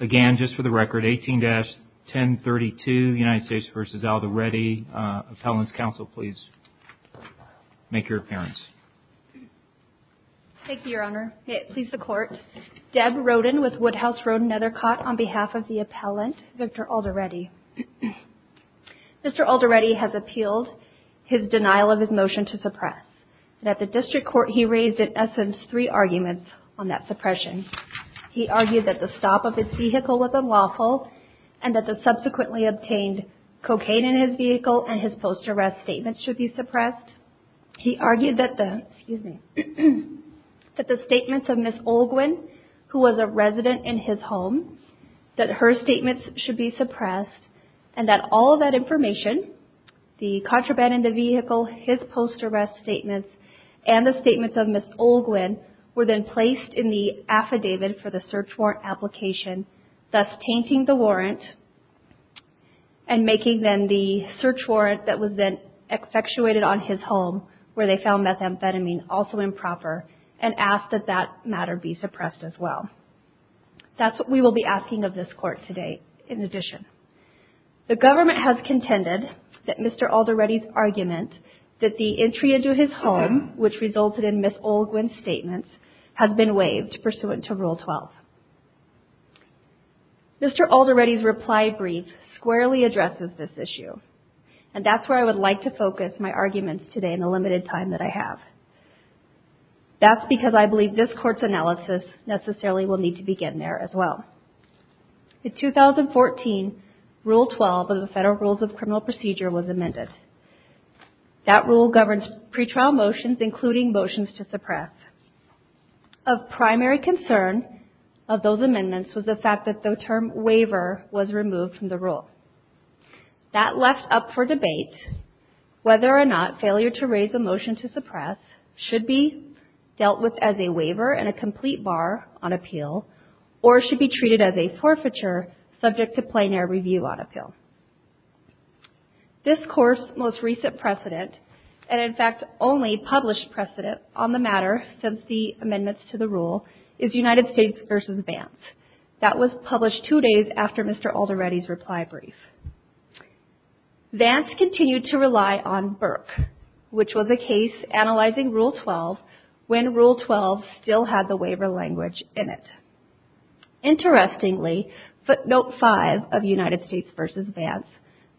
Again, just for the record, 18-1032 United States v. Alderete, Appellant's Counsel, please make your appearance. Thank you, Your Honor. May it please the Court, Deb Roden with Woodhouse Roden Nethercott on behalf of the appellant, Victor Alderete. Mr. Alderete has appealed his denial of his motion to suppress. At the District Court, he raised, in essence, three arguments on that suppression. He argued that the stop of his vehicle was unlawful and that the subsequently obtained cocaine in his vehicle and his post-arrest statements should be suppressed. He argued that the statements of Ms. Olguin, who was a resident in his home, that her statements should be suppressed and that all of that information, the contraband in the vehicle, his post-arrest statements, and the statements of Ms. Olguin, were then placed in the affidavit for the search warrant application, thus tainting the warrant and making then the search warrant that was then effectuated on his home, where they found methamphetamine, also improper, and asked that that matter be suppressed as well. That's what we will be asking of this Court today, in addition. The government has contended that Mr. Alderete's argument that the entry into his statements has been waived pursuant to Rule 12. Mr. Alderete's reply brief squarely addresses this issue, and that's where I would like to focus my arguments today in the limited time that I have. That's because I believe this Court's analysis necessarily will need to begin there as well. In 2014, Rule 12 of the Federal Rules of Criminal Procedure was amended. That rule governs pretrial motions, including motions to suppress. Of primary concern of those amendments was the fact that the term waiver was removed from the rule. That left up for debate whether or not failure to subject to plenary review on appeal. This Court's most recent precedent, and in fact only published precedent on the matter since the amendments to the rule, is United States v. Vance. That was published two days after Mr. Alderete's reply brief. Vance continued to rely on Burke, which was a case of analyzing Rule 12 when Rule 12 still had the waiver language in it. Interestingly, footnote 5 of United States v. Vance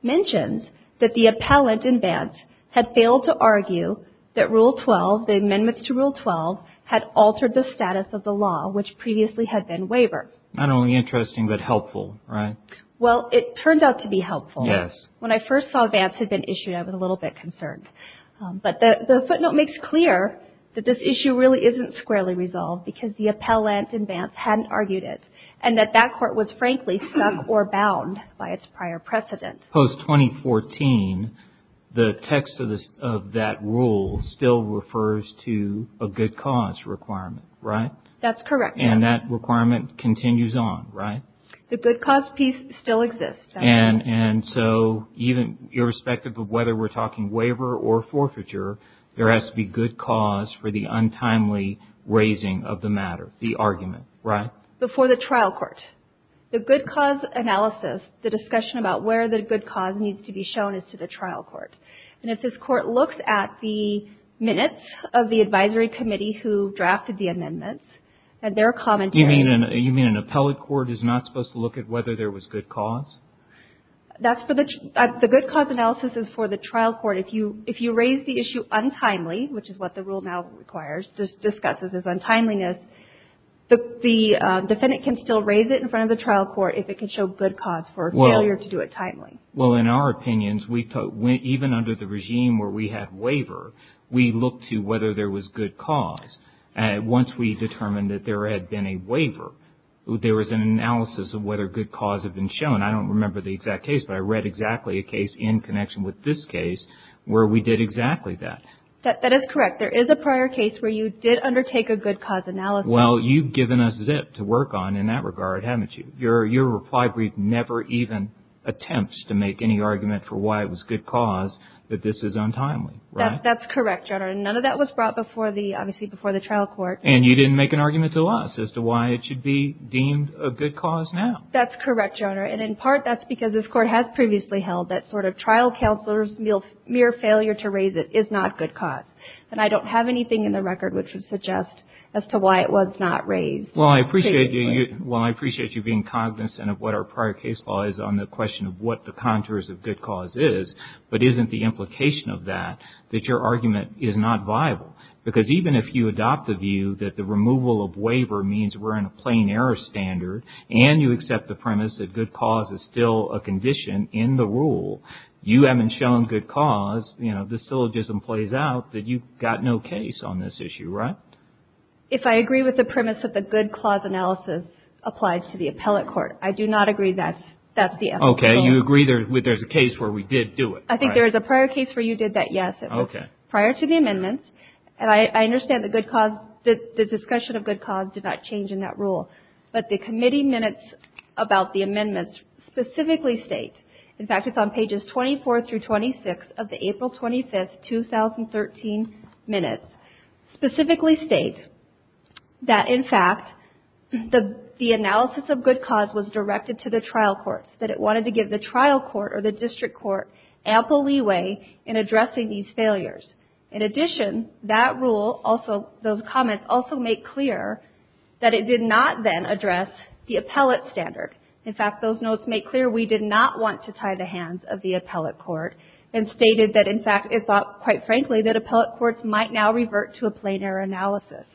mentions that the appellant in Vance had failed to argue that Rule 12, the amendments to Rule 12, had altered the status of the law, which previously had been waiver. Not only interesting, but helpful, right? Well, it turned out to be helpful. When I first saw Vance had been issued, I was a little bit concerned. But the footnote makes clear that this issue really isn't squarely resolved because the appellant in Vance hadn't argued it, and that that court was frankly stuck or bound by its prior precedent. Post-2014, the text of that rule still refers to a good cause requirement, right? That's correct. And that requirement continues on, right? The good cause piece still exists. And so even irrespective of whether we're talking waiver or forfeiture, there has to be good cause for the untimely raising of the matter, the argument, right? Before the trial court. The good cause analysis, the discussion about where the good cause needs to be shown, is to the trial court. And if this was good cause? The good cause analysis is for the trial court. If you raise the issue untimely, which is what the rule now requires, just discusses as untimeliness, the defendant can still raise it in front of the trial court if it can show good cause for failure to do it timely. Well, in our opinions, even under the regime where we have waiver, we look to whether there was good cause. Once we determined that there had been a waiver, there was an analysis of whether good cause had been shown. I don't remember the exact case, but I read exactly a case in connection with this case where we did exactly that. That is correct. There is a prior case where you did undertake a good cause analysis. Well, you've given us zip to work on in that regard, haven't you? Your reply brief never even attempts to make any argument for why it was good cause that this is untimely, right? That's correct, Your Honor. And none of that was brought before the trial court. And you didn't make an argument to us as to why it should be deemed a good cause now. That's correct, Your Honor. And in part, that's because this court has previously held that sort of trial counselor's mere failure to raise it is not good cause. And I don't have anything in the record which would suggest as to why it was not raised. Well, I appreciate you being cognizant of what our prior case law is on the question of what the contours of good cause is, but isn't the waiver means we're in a plain error standard, and you accept the premise that good cause is still a condition in the rule. You haven't shown good cause. You know, the syllogism plays out that you've got no case on this issue, right? If I agree with the premise that the good cause analysis applies to the appellate court, I do not agree that that's the evidence. Okay. You agree there's a case where we did do it, right? I think there is a prior case where you did that, yes. Okay. Prior to the amendments, and I understand the discussion of good cause did not change in that rule, but the committee minutes about the amendments specifically state, in fact, it's on pages 24 through 26 of the April 25, 2013 minutes, specifically state that, in fact, the analysis of good cause was directed to the trial courts, that it wanted to give the trial court or the district court ample leeway in In addition, that rule also, those comments also make clear that it did not then address the appellate standard. In fact, those notes make clear we did not want to tie the hands of the appellate court and stated that, in fact, it thought, quite frankly, that appellate courts might now revert to a plain error analysis.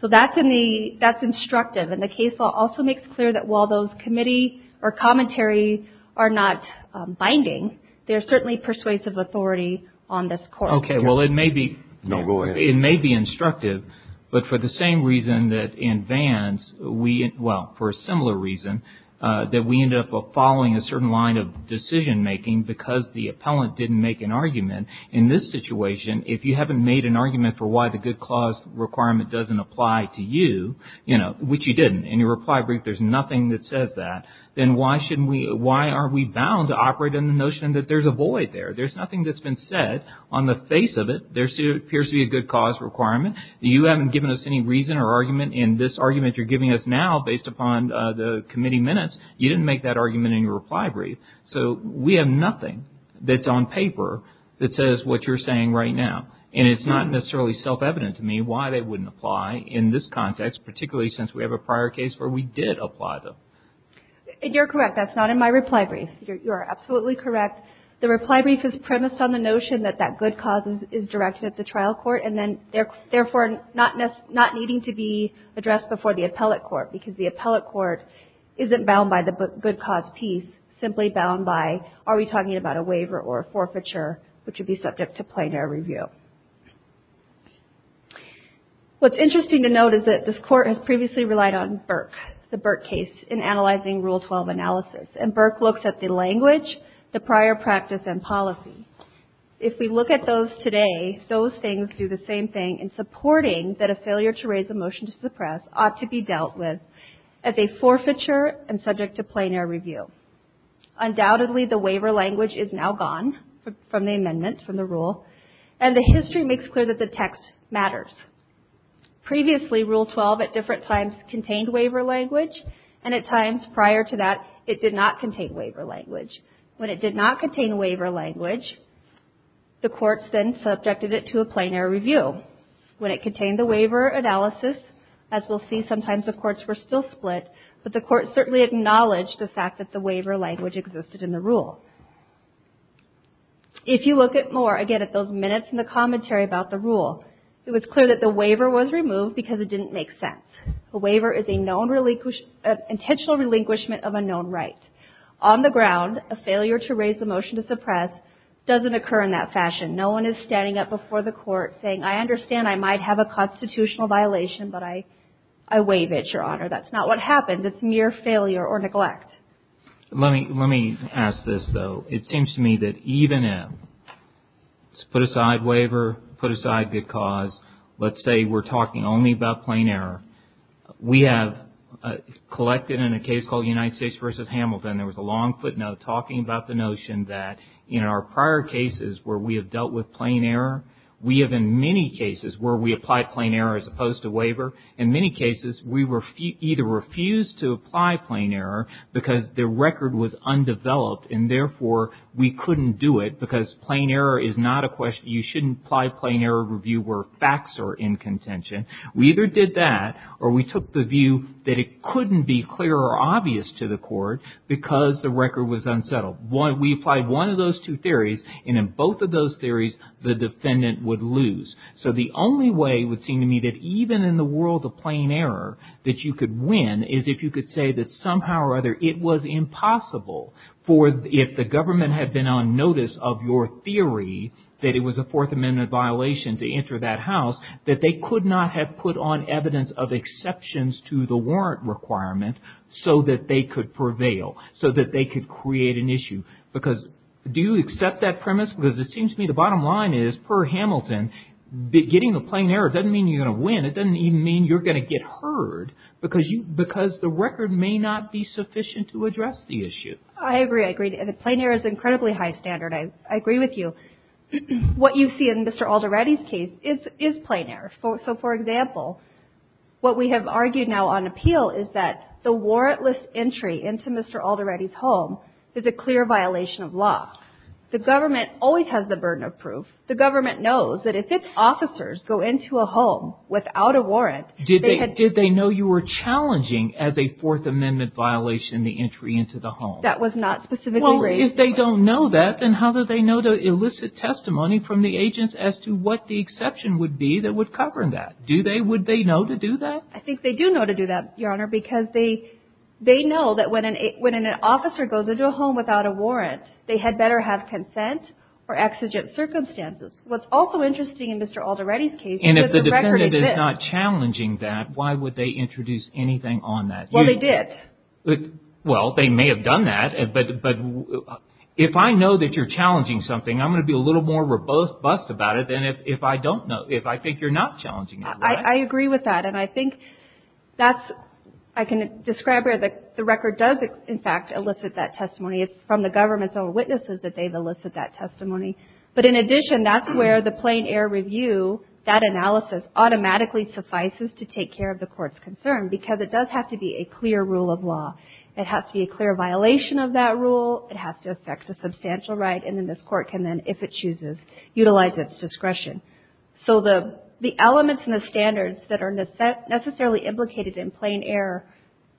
So that's in the, that's instructive, and the case law also makes clear that while those No, go ahead. It may be instructive, but for the same reason that in Vance, we, well, for a similar reason, that we ended up following a certain line of decision making because the appellant didn't make an argument. In this situation, if you haven't made an argument for why the good cause requirement doesn't apply to you, you know, which you didn't, in your reply brief, there's nothing that says that, then why shouldn't we, why are we bound to operate in the notion that there's a void there? There's nothing that's been said on the face of it. There appears to be a good cause requirement. You haven't given us any reason or argument in this argument you're giving us now based upon the committee minutes. You didn't make that argument in your reply brief. So we have nothing that's on paper that says what you're saying right now, and it's not necessarily self-evident to me why they wouldn't apply in this context, particularly since we have a prior case where we did apply them. And you're correct. That's not in my reply brief. You are absolutely correct. The reply brief is premised on the notion that that good cause is directed at the trial court and then, therefore, not needing to be addressed before the appellate court because the appellate court isn't bound by the good cause piece, simply bound by, are we talking about a waiver or a forfeiture, which would be subject to analysis. And Burke looks at the language, the prior practice, and policy. If we look at those today, those things do the same thing in supporting that a failure to raise a motion to suppress ought to be dealt with as a forfeiture and subject to plein air review. Undoubtedly, the waiver language is now gone from the amendment, from the rule, and the history makes clear that the text matters. Previously, Rule 12 at times prior to that, it did not contain waiver language. When it did not contain waiver language, the courts then subjected it to a plein air review. When it contained the waiver analysis, as we'll see, sometimes the courts were still split, but the courts certainly acknowledged the fact that the waiver language existed in the rule. If you look at more, again, at those minutes in the commentary about the rule, it was clear that the waiver was removed because it didn't make sense. A waiver is an intentional relinquishment of a known right. On the ground, a failure to raise a motion to suppress doesn't occur in that fashion. No one is standing up before the court saying, I understand I might have a constitutional violation, but I waive it, Your Honor. That's not what happens. It's mere failure or neglect. Let me ask this, though. It seems to me that even if it's put aside waiver, put aside good cause, let's say we're talking only about plein air. We have collected in a case called United States v. Hamilton, there was a long footnote talking about the notion that in our prior cases where we have dealt with plein air, we have in many cases where we applied plein air as opposed to waiver. In many cases, we either refused to apply plein air because the record was undeveloped and therefore we couldn't do it because plein air is not a question. You shouldn't apply plein air review where facts are in contention. We either did that or we took the view that it couldn't be clear or obvious to the court because the record was unsettled. We applied one of those two theories, and in both of those theories, the defendant would lose. So the only way it would seem to me that even in the world of plein air that you could win is if you could say that somehow or other it was impossible for if the government had been on notice of your theory that it was a Fourth Amendment violation to enter that house, that they could not have put on evidence of exceptions to the warrant requirement so that they could prevail, so that they could create an issue. Because do you accept that premise? Because it seems to me the you're going to get heard because the record may not be sufficient to address the issue. I agree. I agree. Plein air is incredibly high standard. I agree with you. What you see in Mr. Alderady's case is plein air. So for example, what we have argued now on appeal is that the warrantless entry into Mr. Alderady's home is a clear violation of law. The government always has the burden of proof. The government knows that if its officers go into a home without a warrant... Did they know you were challenging as a Fourth Amendment violation the entry into the home? That was not specifically raised. Well, if they don't know that, then how do they know to elicit testimony from the agents as to what the exception would be that would cover that? Do they? Would they know to do that? I think they do know to do that, Your Honor, because they know that when an officer does not consent or exigent circumstances. What's also interesting in Mr. Alderady's case... And if the defendant is not challenging that, why would they introduce anything on that? Well, they did. Well, they may have done that. But if I know that you're challenging something, I'm going to be a little more robust about it than if I don't know. If I think you're not challenging that, right? I agree with that. And I think that's... I can describe where the evidence is that the court is not going to elicit that testimony. But in addition, that's where the plain air review, that analysis, automatically suffices to take care of the court's concern. Because it does have to be a clear rule of law. It has to be a clear violation of that rule. It has to affect the substantial right. And then this court can then, if it chooses, utilize its discretion. So the elements and the standards that are necessarily implicated in plain air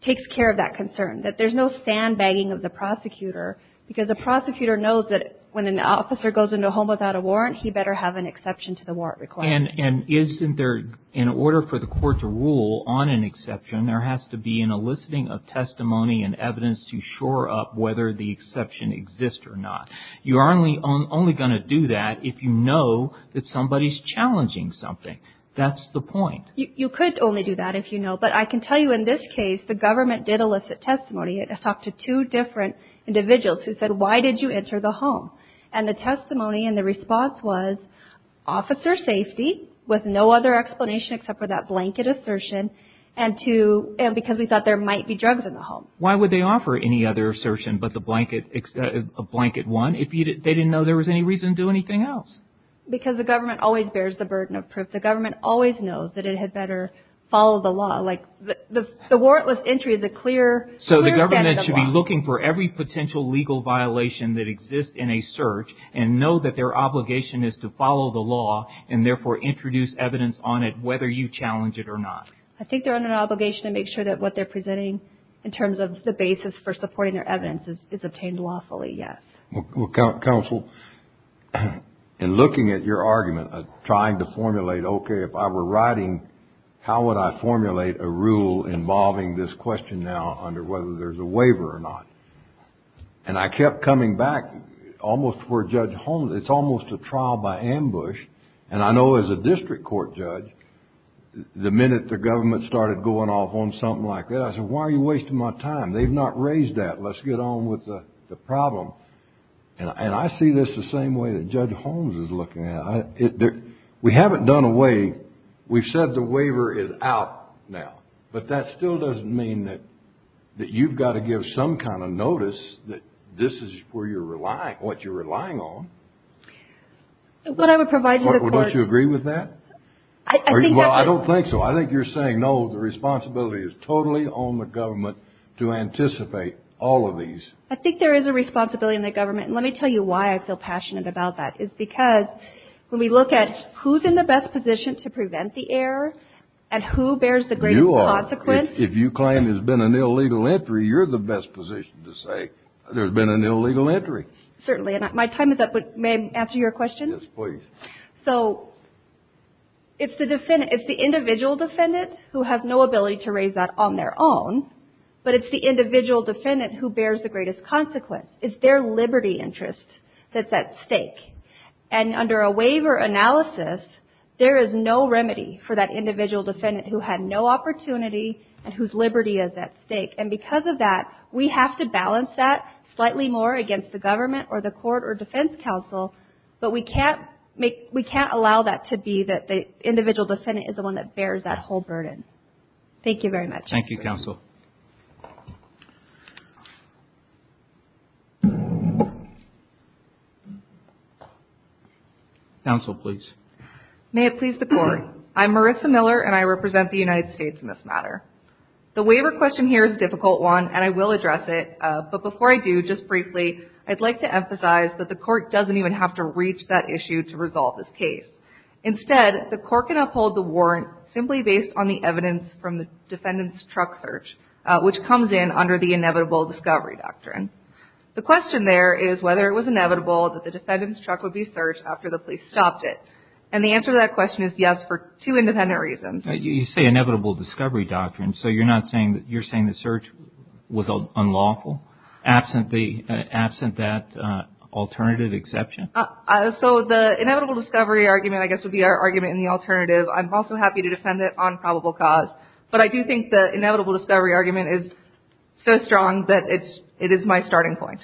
takes care of that concern. That there's no sandbagging of the prosecutor. Because the prosecutor knows that if the court when an officer goes into a home without a warrant, he better have an exception to the warrant requirement. And isn't there, in order for the court to rule on an exception, there has to be an eliciting of testimony and evidence to shore up whether the exception exists or not. You're only going to do that if you know that somebody's challenging something. That's the point. You could only do that if you know. But I can tell you in this case, the government did elicit testimony. I talked to two different individuals who said, why did you enter the home? And the testimony and the response was, officer safety with no other explanation except for that blanket assertion. And because we thought there might be drugs in the home. Why would they offer any other assertion but a blanket one if they didn't know there was any reason to do anything else? Because the government always bears the burden of proof. The government always knows that it had better follow the law. The warrantless entry is a clear statement of the law. So the government should be looking for every potential legal violation that exists in a search and know that their obligation is to follow the law and therefore introduce evidence on it whether you challenge it or not. I think they're under an obligation to make sure that what they're presenting in terms of the basis for supporting their evidence is obtained lawfully, yes. Counsel, in looking at your argument, trying to formulate, okay, if I were writing, how would I formulate a rule involving this question now under whether there's a waiver or not? And I kept coming back almost to where Judge Holmes, it's almost a trial by ambush. And I know as a district court judge, the minute the government started going off on something like that, I said, why are you wasting my time? They've not raised that. Let's get on with the problem. And I see this the same way that Judge Holmes is looking at it. We haven't done away, we've said the waiver is out now. But that still doesn't mean that you've got to give some kind of notice that this is what you're relying on. Don't you agree with that? Well, I don't think so. I think you're saying, no, the responsibility is totally on the government to anticipate all of these. I think there is a responsibility on the government. And let me tell you why I feel passionate about that. It's because when we look at who's in the best position to prevent the error and who bears the greatest consequence. If you claim there's been an illegal entry, you're the best position to say there's been an illegal entry. Certainly. And my time is up. May I answer your question? Yes, please. So it's the individual defendant who has no ability to raise that on their own, but it's the individual defendant who bears the greatest consequence. And under a waiver analysis, there is no remedy for that individual defendant who had no opportunity and whose liberty is at stake. And because of that, we have to balance that slightly more against the government or the court or defense counsel. But we can't allow that to be that the individual defendant is the one that bears that whole burden. Thank you very much. Counsel, please. You say inevitable discovery doctrine. So you're not saying that you're saying the search was unlawful? So the inevitable discovery argument, I guess, would be our argument in the alternative. I'm also happy to defend it on probable cause. But I do think the inevitable discovery argument is so strong that it is my starting point.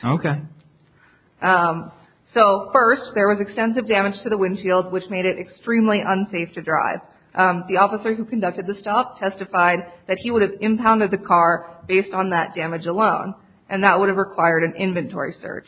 So first, there was extensive damage to the windshield, which made it extremely unsafe to drive. The officer who conducted the stop testified that he would have impounded the car based on that damage alone. And that would have required an inventory search.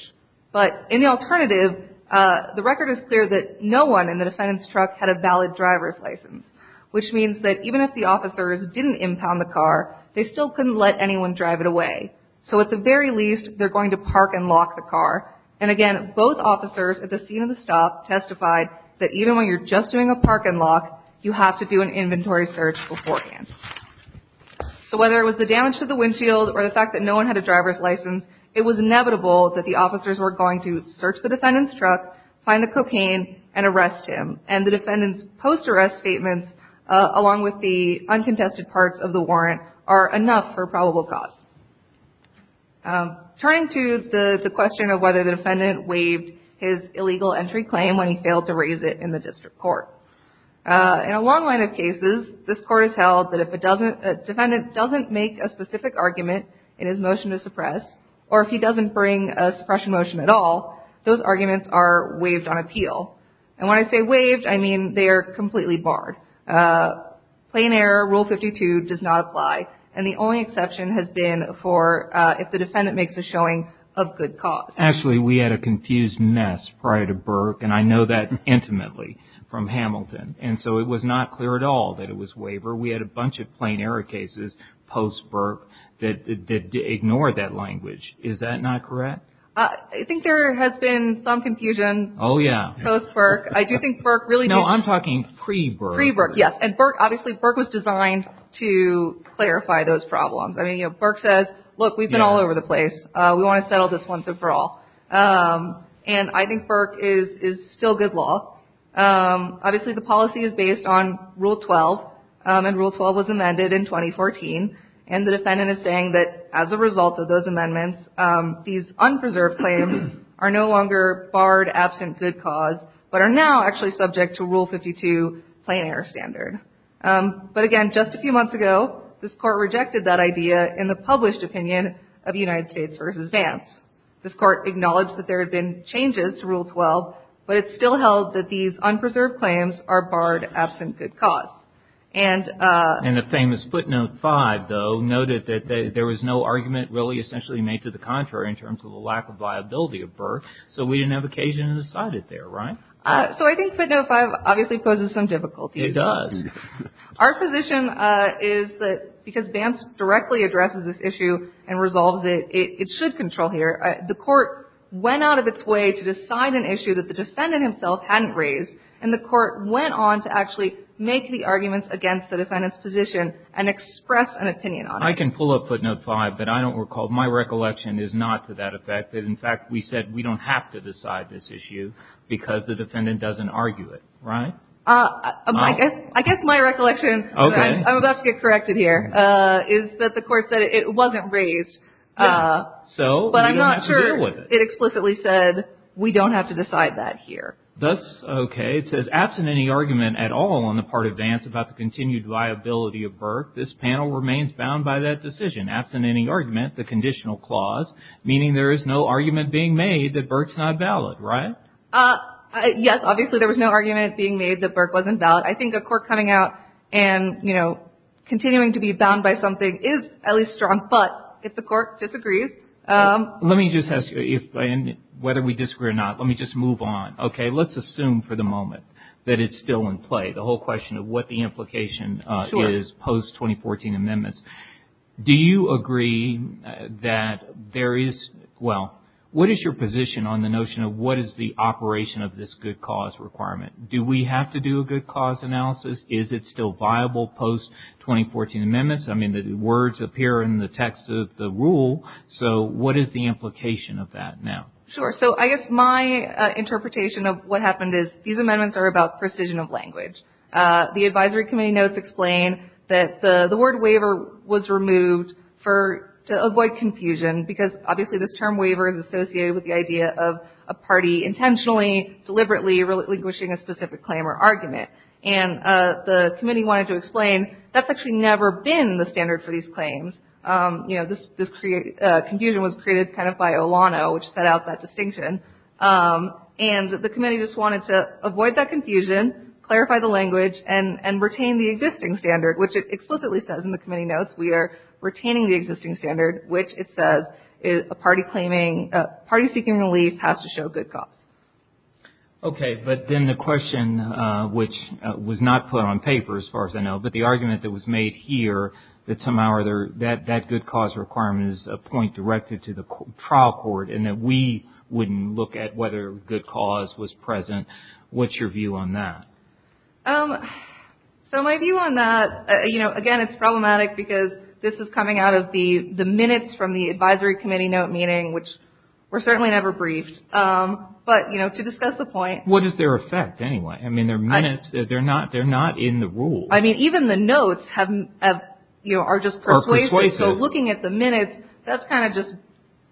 But in the alternative, the record is clear that no one in the defendant's truck had a valid driver's license, which means that even if the officers didn't impound the car, they still couldn't let anyone drive it away. So at the very least, they're going to park and lock the car. And again, both officers at the scene of the stop testified that even when you're just doing a park and lock, you have to do an inventory search beforehand. So whether it was the damage to the windshield or the fact that no one had a driver's license, it was inevitable that the officers were going to search the defendant's truck, find the cocaine, and arrest him. And the defendant's post-arrest statements, along with the uncontested parts of the warrant, are enough for probable cause. Turning to the question of whether the defendant waived his illegal entry claim when he failed to raise it in the district court. In a long line of cases, this court has held that if a defendant doesn't make a specific argument in his motion to suppress, or if he doesn't bring a suppression motion at all, those arguments are waived on appeal. And when I say waived, I mean they are completely barred. Plain error, Rule 52, does not apply. And the only exception has been for if the defendant makes a showing of good cause. Actually, we had a confused mess prior to Burke, and I know that intimately from Hamilton. And so it was not clear at all that it was waiver. We had a bunch of plain error cases post-Burke that ignored that language. Is that not correct? I think there has been some confusion post-Burke. I do think Burke really did... No, I'm talking pre-Burke. Pre-Burke, yes. And Burke, obviously, Burke was designed to clarify those problems. I mean, Burke says, look, we've been all over the place. We want to settle this once and for all. And I think Burke is still good law. Obviously, the policy is based on Rule 12. And Rule 12 was amended in 2014. And the defendant is saying that as a result of those amendments, these unpreserved claims are no longer barred absent good cause, but are now actually subject to Rule 52 plain error standard. But again, just a few months ago, this Court rejected that idea in the published opinion of United States v. Vance. This Court acknowledged that there had been changes to Rule 12, but it still held that these unpreserved claims are barred absent good cause. And the famous footnote 5, though, noted that there was no argument really essentially made to the contrary in terms of the lack of viability of Burke. So we didn't have occasion to decide it there, right? So I think footnote 5 obviously poses some difficulty. It does. Our position is that because Vance directly addresses this issue and resolves it, it should control here. The Court went out of its way to decide an issue that the defendant himself hadn't raised, and the Court went on to actually make the arguments against the defendant's position and express an opinion on it. I can pull up footnote 5, but I don't recall. My recollection is not to that effect. In fact, we said we don't have to decide this issue because the defendant doesn't argue it, right? I guess my recollection, I'm about to get corrected here, is that the Court said it wasn't raised. But I'm not sure it explicitly said we don't have to decide that here. That's okay. It says absent any argument at all on the part of Vance about the continued viability of Burke, this panel remains bound by that decision. Absent any argument, the conditional clause, meaning there is no argument being made that Burke's not valid, right? Yes, obviously there was no argument being made that Burke wasn't valid. I think a court coming out and, you know, continuing to be bound by something is at least strong, but if the Court disagrees... Let me just ask you, whether we disagree or not, let me just move on, okay? Let's assume for the moment that it's still in play, the whole question of what the implication is post-2014 amendments. Do you agree that there is... Well, what is your position on the notion of what is the operation of this good cause requirement? Do we have to do a good cause analysis? Is it still viable post-2014 amendments? I mean, the words appear in the text of the rule, so what is the implication of that now? Sure, so I guess my interpretation of what happened is these amendments are about precision of language. The advisory committee notes explain that the word waiver was removed to avoid confusion because obviously this term waiver is associated with the idea of a party intentionally, deliberately relinquishing a specific claim or argument. And the committee wanted to explain that's actually never been the standard for these claims. You know, this confusion was created kind of by Olano, which set out that distinction. And the committee just wanted to avoid that confusion, clarify the language, and retain the existing standard, which it explicitly says in the committee notes we are retaining the existing standard, which it says a party seeking relief has to show good cause. Okay, but then the question, which was not put on paper as far as I know, but the argument that was made here, that somehow that good cause requirement is a point directed to the trial court and that we wouldn't look at whether good cause was present, what's your view on that? So my view on that, you know, again, it's problematic because this is coming out of the minutes from the advisory committee note meeting, which were certainly never briefed, but, you know, to discuss the point. What is their effect anyway? I mean, their minutes, they're not in the rules. I mean, even the notes have, you know, are just persuasive. So looking at the minutes, that's kind of just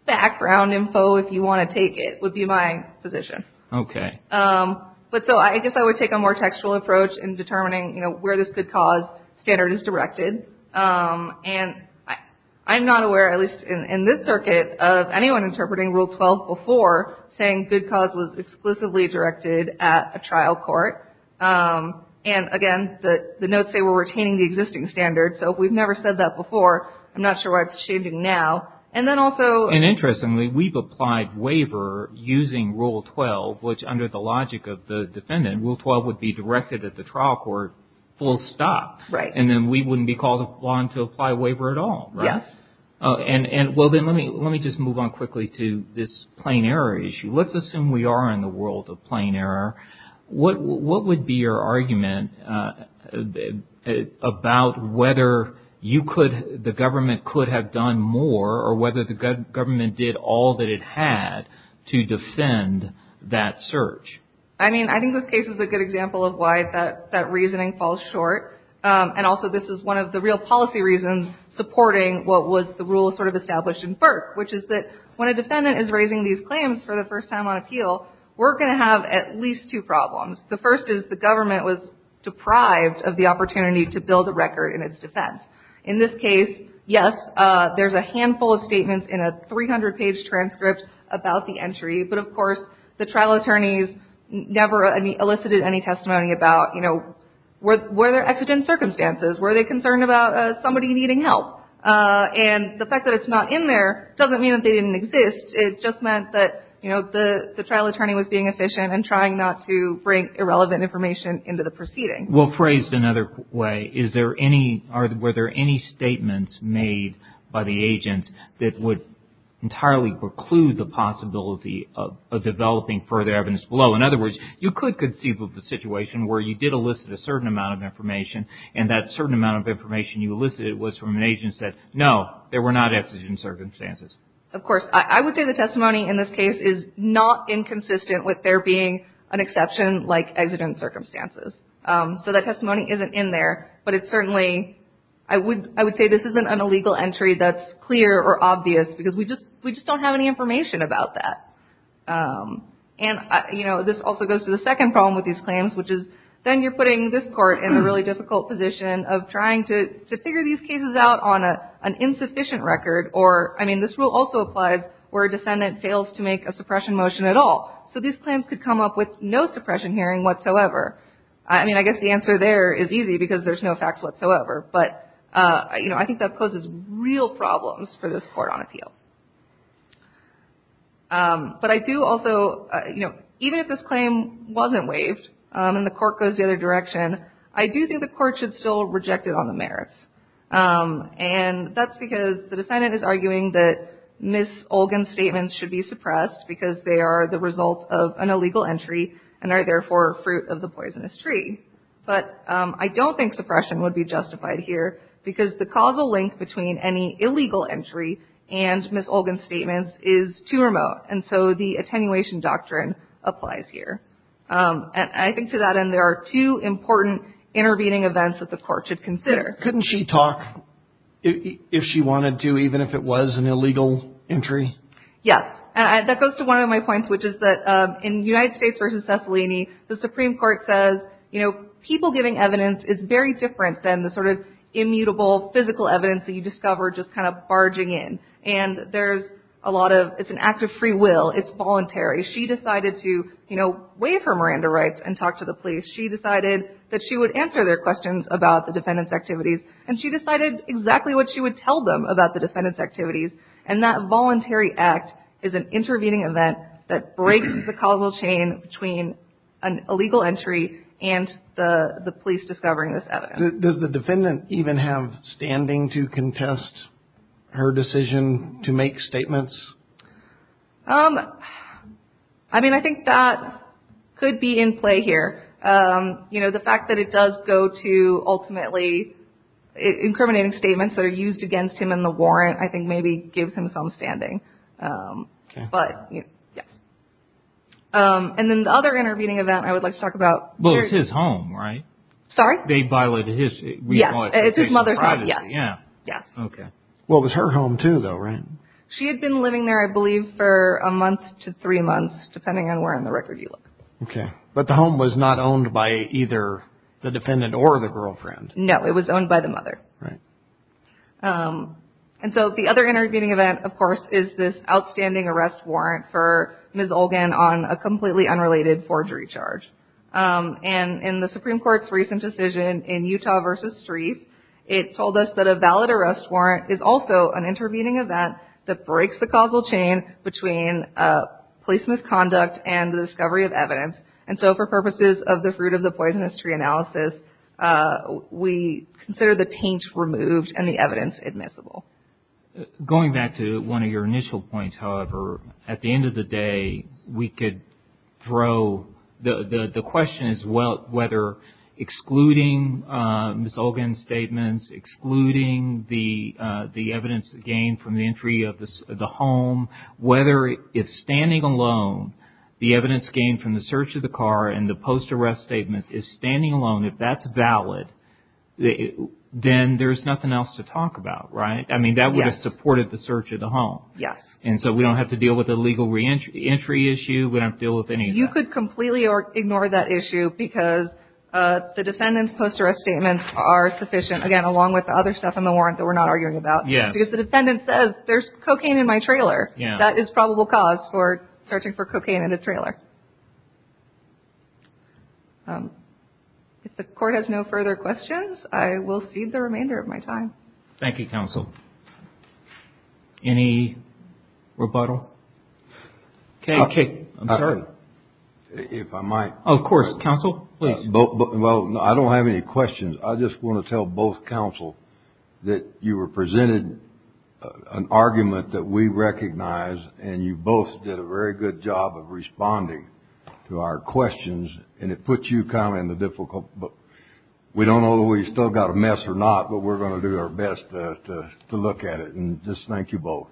background info if you want to take it would be my position. Okay. But so I guess I would take a more textual approach in determining, you know, where this good cause standard is directed. And I'm not aware, at least in this circuit, of anyone interpreting Rule 12 before saying good cause was exclusively directed at a trial court. And again, the notes say we're retaining the existing standard. So if we've never said that before, I'm not sure why it's changing now. And then also... And interestingly, we've applied waiver using Rule 12, which under the logic of the defendant, Rule 12 would be directed at the trial court full stop. Right. And then we wouldn't be called upon to apply waiver at all, right? Yes. And well, then let me just move on quickly to this plain error issue. Let's assume we are in the world of plain error. What would be your argument about whether the government could have done more or whether the government did all that it had to defend that search? I mean, I think this case is a good example of why that reasoning falls short. And also, this is one of the real policy reasons supporting what was the rule sort of established in Burke, which is that when a defendant is raising these claims for the first time on appeal, we're going to have at least two problems. The first is the government was deprived of the opportunity to build a record in its defense. In this case, yes, there's a handful of statements in a 300-page transcript about the entry. But, of course, the trial attorneys never elicited any testimony about, you know, were there exigent circumstances? Were they concerned about somebody needing help? And the fact that it's not in there doesn't mean that they didn't exist. It just meant that, you know, the trial attorney was being efficient and trying not to bring irrelevant information into the proceeding. Well, phrased another way, is there any or were there any statements made by the agent that would entirely preclude the possibility of developing further evidence below? In other words, you could conceive of a situation where you did elicit a certain amount of information and that certain amount of information you elicited was from an agent who said, no, there were not exigent circumstances. Of course. I would say the testimony in this case is not inconsistent with there being an exception like exigent circumstances. So that testimony isn't in there. But it's certainly, I would say this isn't an illegal entry that's clear or obvious because we just don't have any information about that. And, you know, this also goes to the second problem with these claims, which is then you're putting this court in a really difficult position of trying to figure these cases out on an insufficient record or, I mean, this rule also applies where a defendant fails to make a suppression motion at all. So these claims could come up with no suppression hearing whatsoever. I mean, I guess the answer there is easy because there's no facts whatsoever. But, you know, I think that poses real problems for this court on appeal. But I do also, you know, even if this claim wasn't waived and the court goes the other direction, I do think the court should still reject it on the merits. And that's because the defendant is arguing that Ms. Olgin's statements should be suppressed because they are the result of an illegal entry and are therefore fruit of the poisonous tree. But I don't think suppression would be justified here because the causal link between any illegal entry and Ms. Olgin's statements is too remote. And so the attenuation doctrine applies here. And I think to that end there are two important intervening events that the court should consider. Couldn't she talk if she wanted to, even if it was an illegal entry? Yes. That goes to one of my points, which is that in United States v. Cicilline, the Supreme Court says, you know, people giving evidence is very different than the sort of immutable physical evidence that you discover just kind of barging in. And there's a lot of – it's an act of free will. It's voluntary. She decided to, you know, waive her Miranda rights and talk to the police. She decided that she would answer their questions about the defendant's activities. And she decided exactly what she would tell them about the defendant's activities. And that voluntary act is an intervening event that breaks the causal chain between an illegal entry and the police discovering this evidence. Does the defendant even have standing to contest her decision to make statements? I mean, I think that could be in play here. You know, the fact that it does go to ultimately incriminating statements that are used against him in the warrant I think maybe gives him some standing. But, yes. And then the other intervening event I would like to talk about. Well, it's his home, right? Sorry? They violated his – Yes. It's his mother's home. Yes. Okay. Well, it was her home too, though, right? She had been living there, I believe, for a month to three months, depending on where on the record you look. Okay. But the home was not owned by either the defendant or the girlfriend. No. It was owned by the mother. Right. And so the other intervening event, of course, is this outstanding arrest warrant for Ms. Olgan on a completely unrelated forgery charge. And in the Supreme Court's recent decision in Utah v. Streep, it told us that a valid arrest warrant is also an intervening event that breaks the causal chain between police misconduct and the discovery of evidence. And so for purposes of the fruit of the poisonous tree analysis, we consider the taint removed and the evidence admissible. Going back to one of your initial points, however, at the end of the day, we could throw – the question is whether excluding Ms. Olgan's statements, excluding the evidence gained from the entry of the home, whether if standing alone the evidence gained from the search of the car and the post-arrest statements, if standing alone, if that's valid, then there's nothing else to talk about, right? Yes. I mean, that would have supported the search of the home. Yes. And so we don't have to deal with the legal reentry issue. We don't have to deal with any of that. You could completely ignore that issue because the defendant's post-arrest statements are sufficient, again, along with the other stuff in the warrant that we're not arguing about. Yes. Because the defendant says, there's cocaine in my trailer. Yes. That is probable cause for searching for cocaine in a trailer. If the Court has no further questions, I will cede the remainder of my time. Thank you, Counsel. Any rebuttal? Okay. I'm sorry. If I might. Of course. Counsel, please. Well, I don't have any questions. I just want to tell both counsel that you presented an argument that we recognize, and you both did a very good job of responding to our questions, and it puts you kind of in the difficult. We don't know whether we've still got a mess or not, but we're going to do our best to look at it. And just thank you both.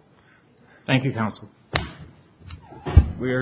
Thank you, Counsel. We are adjourned.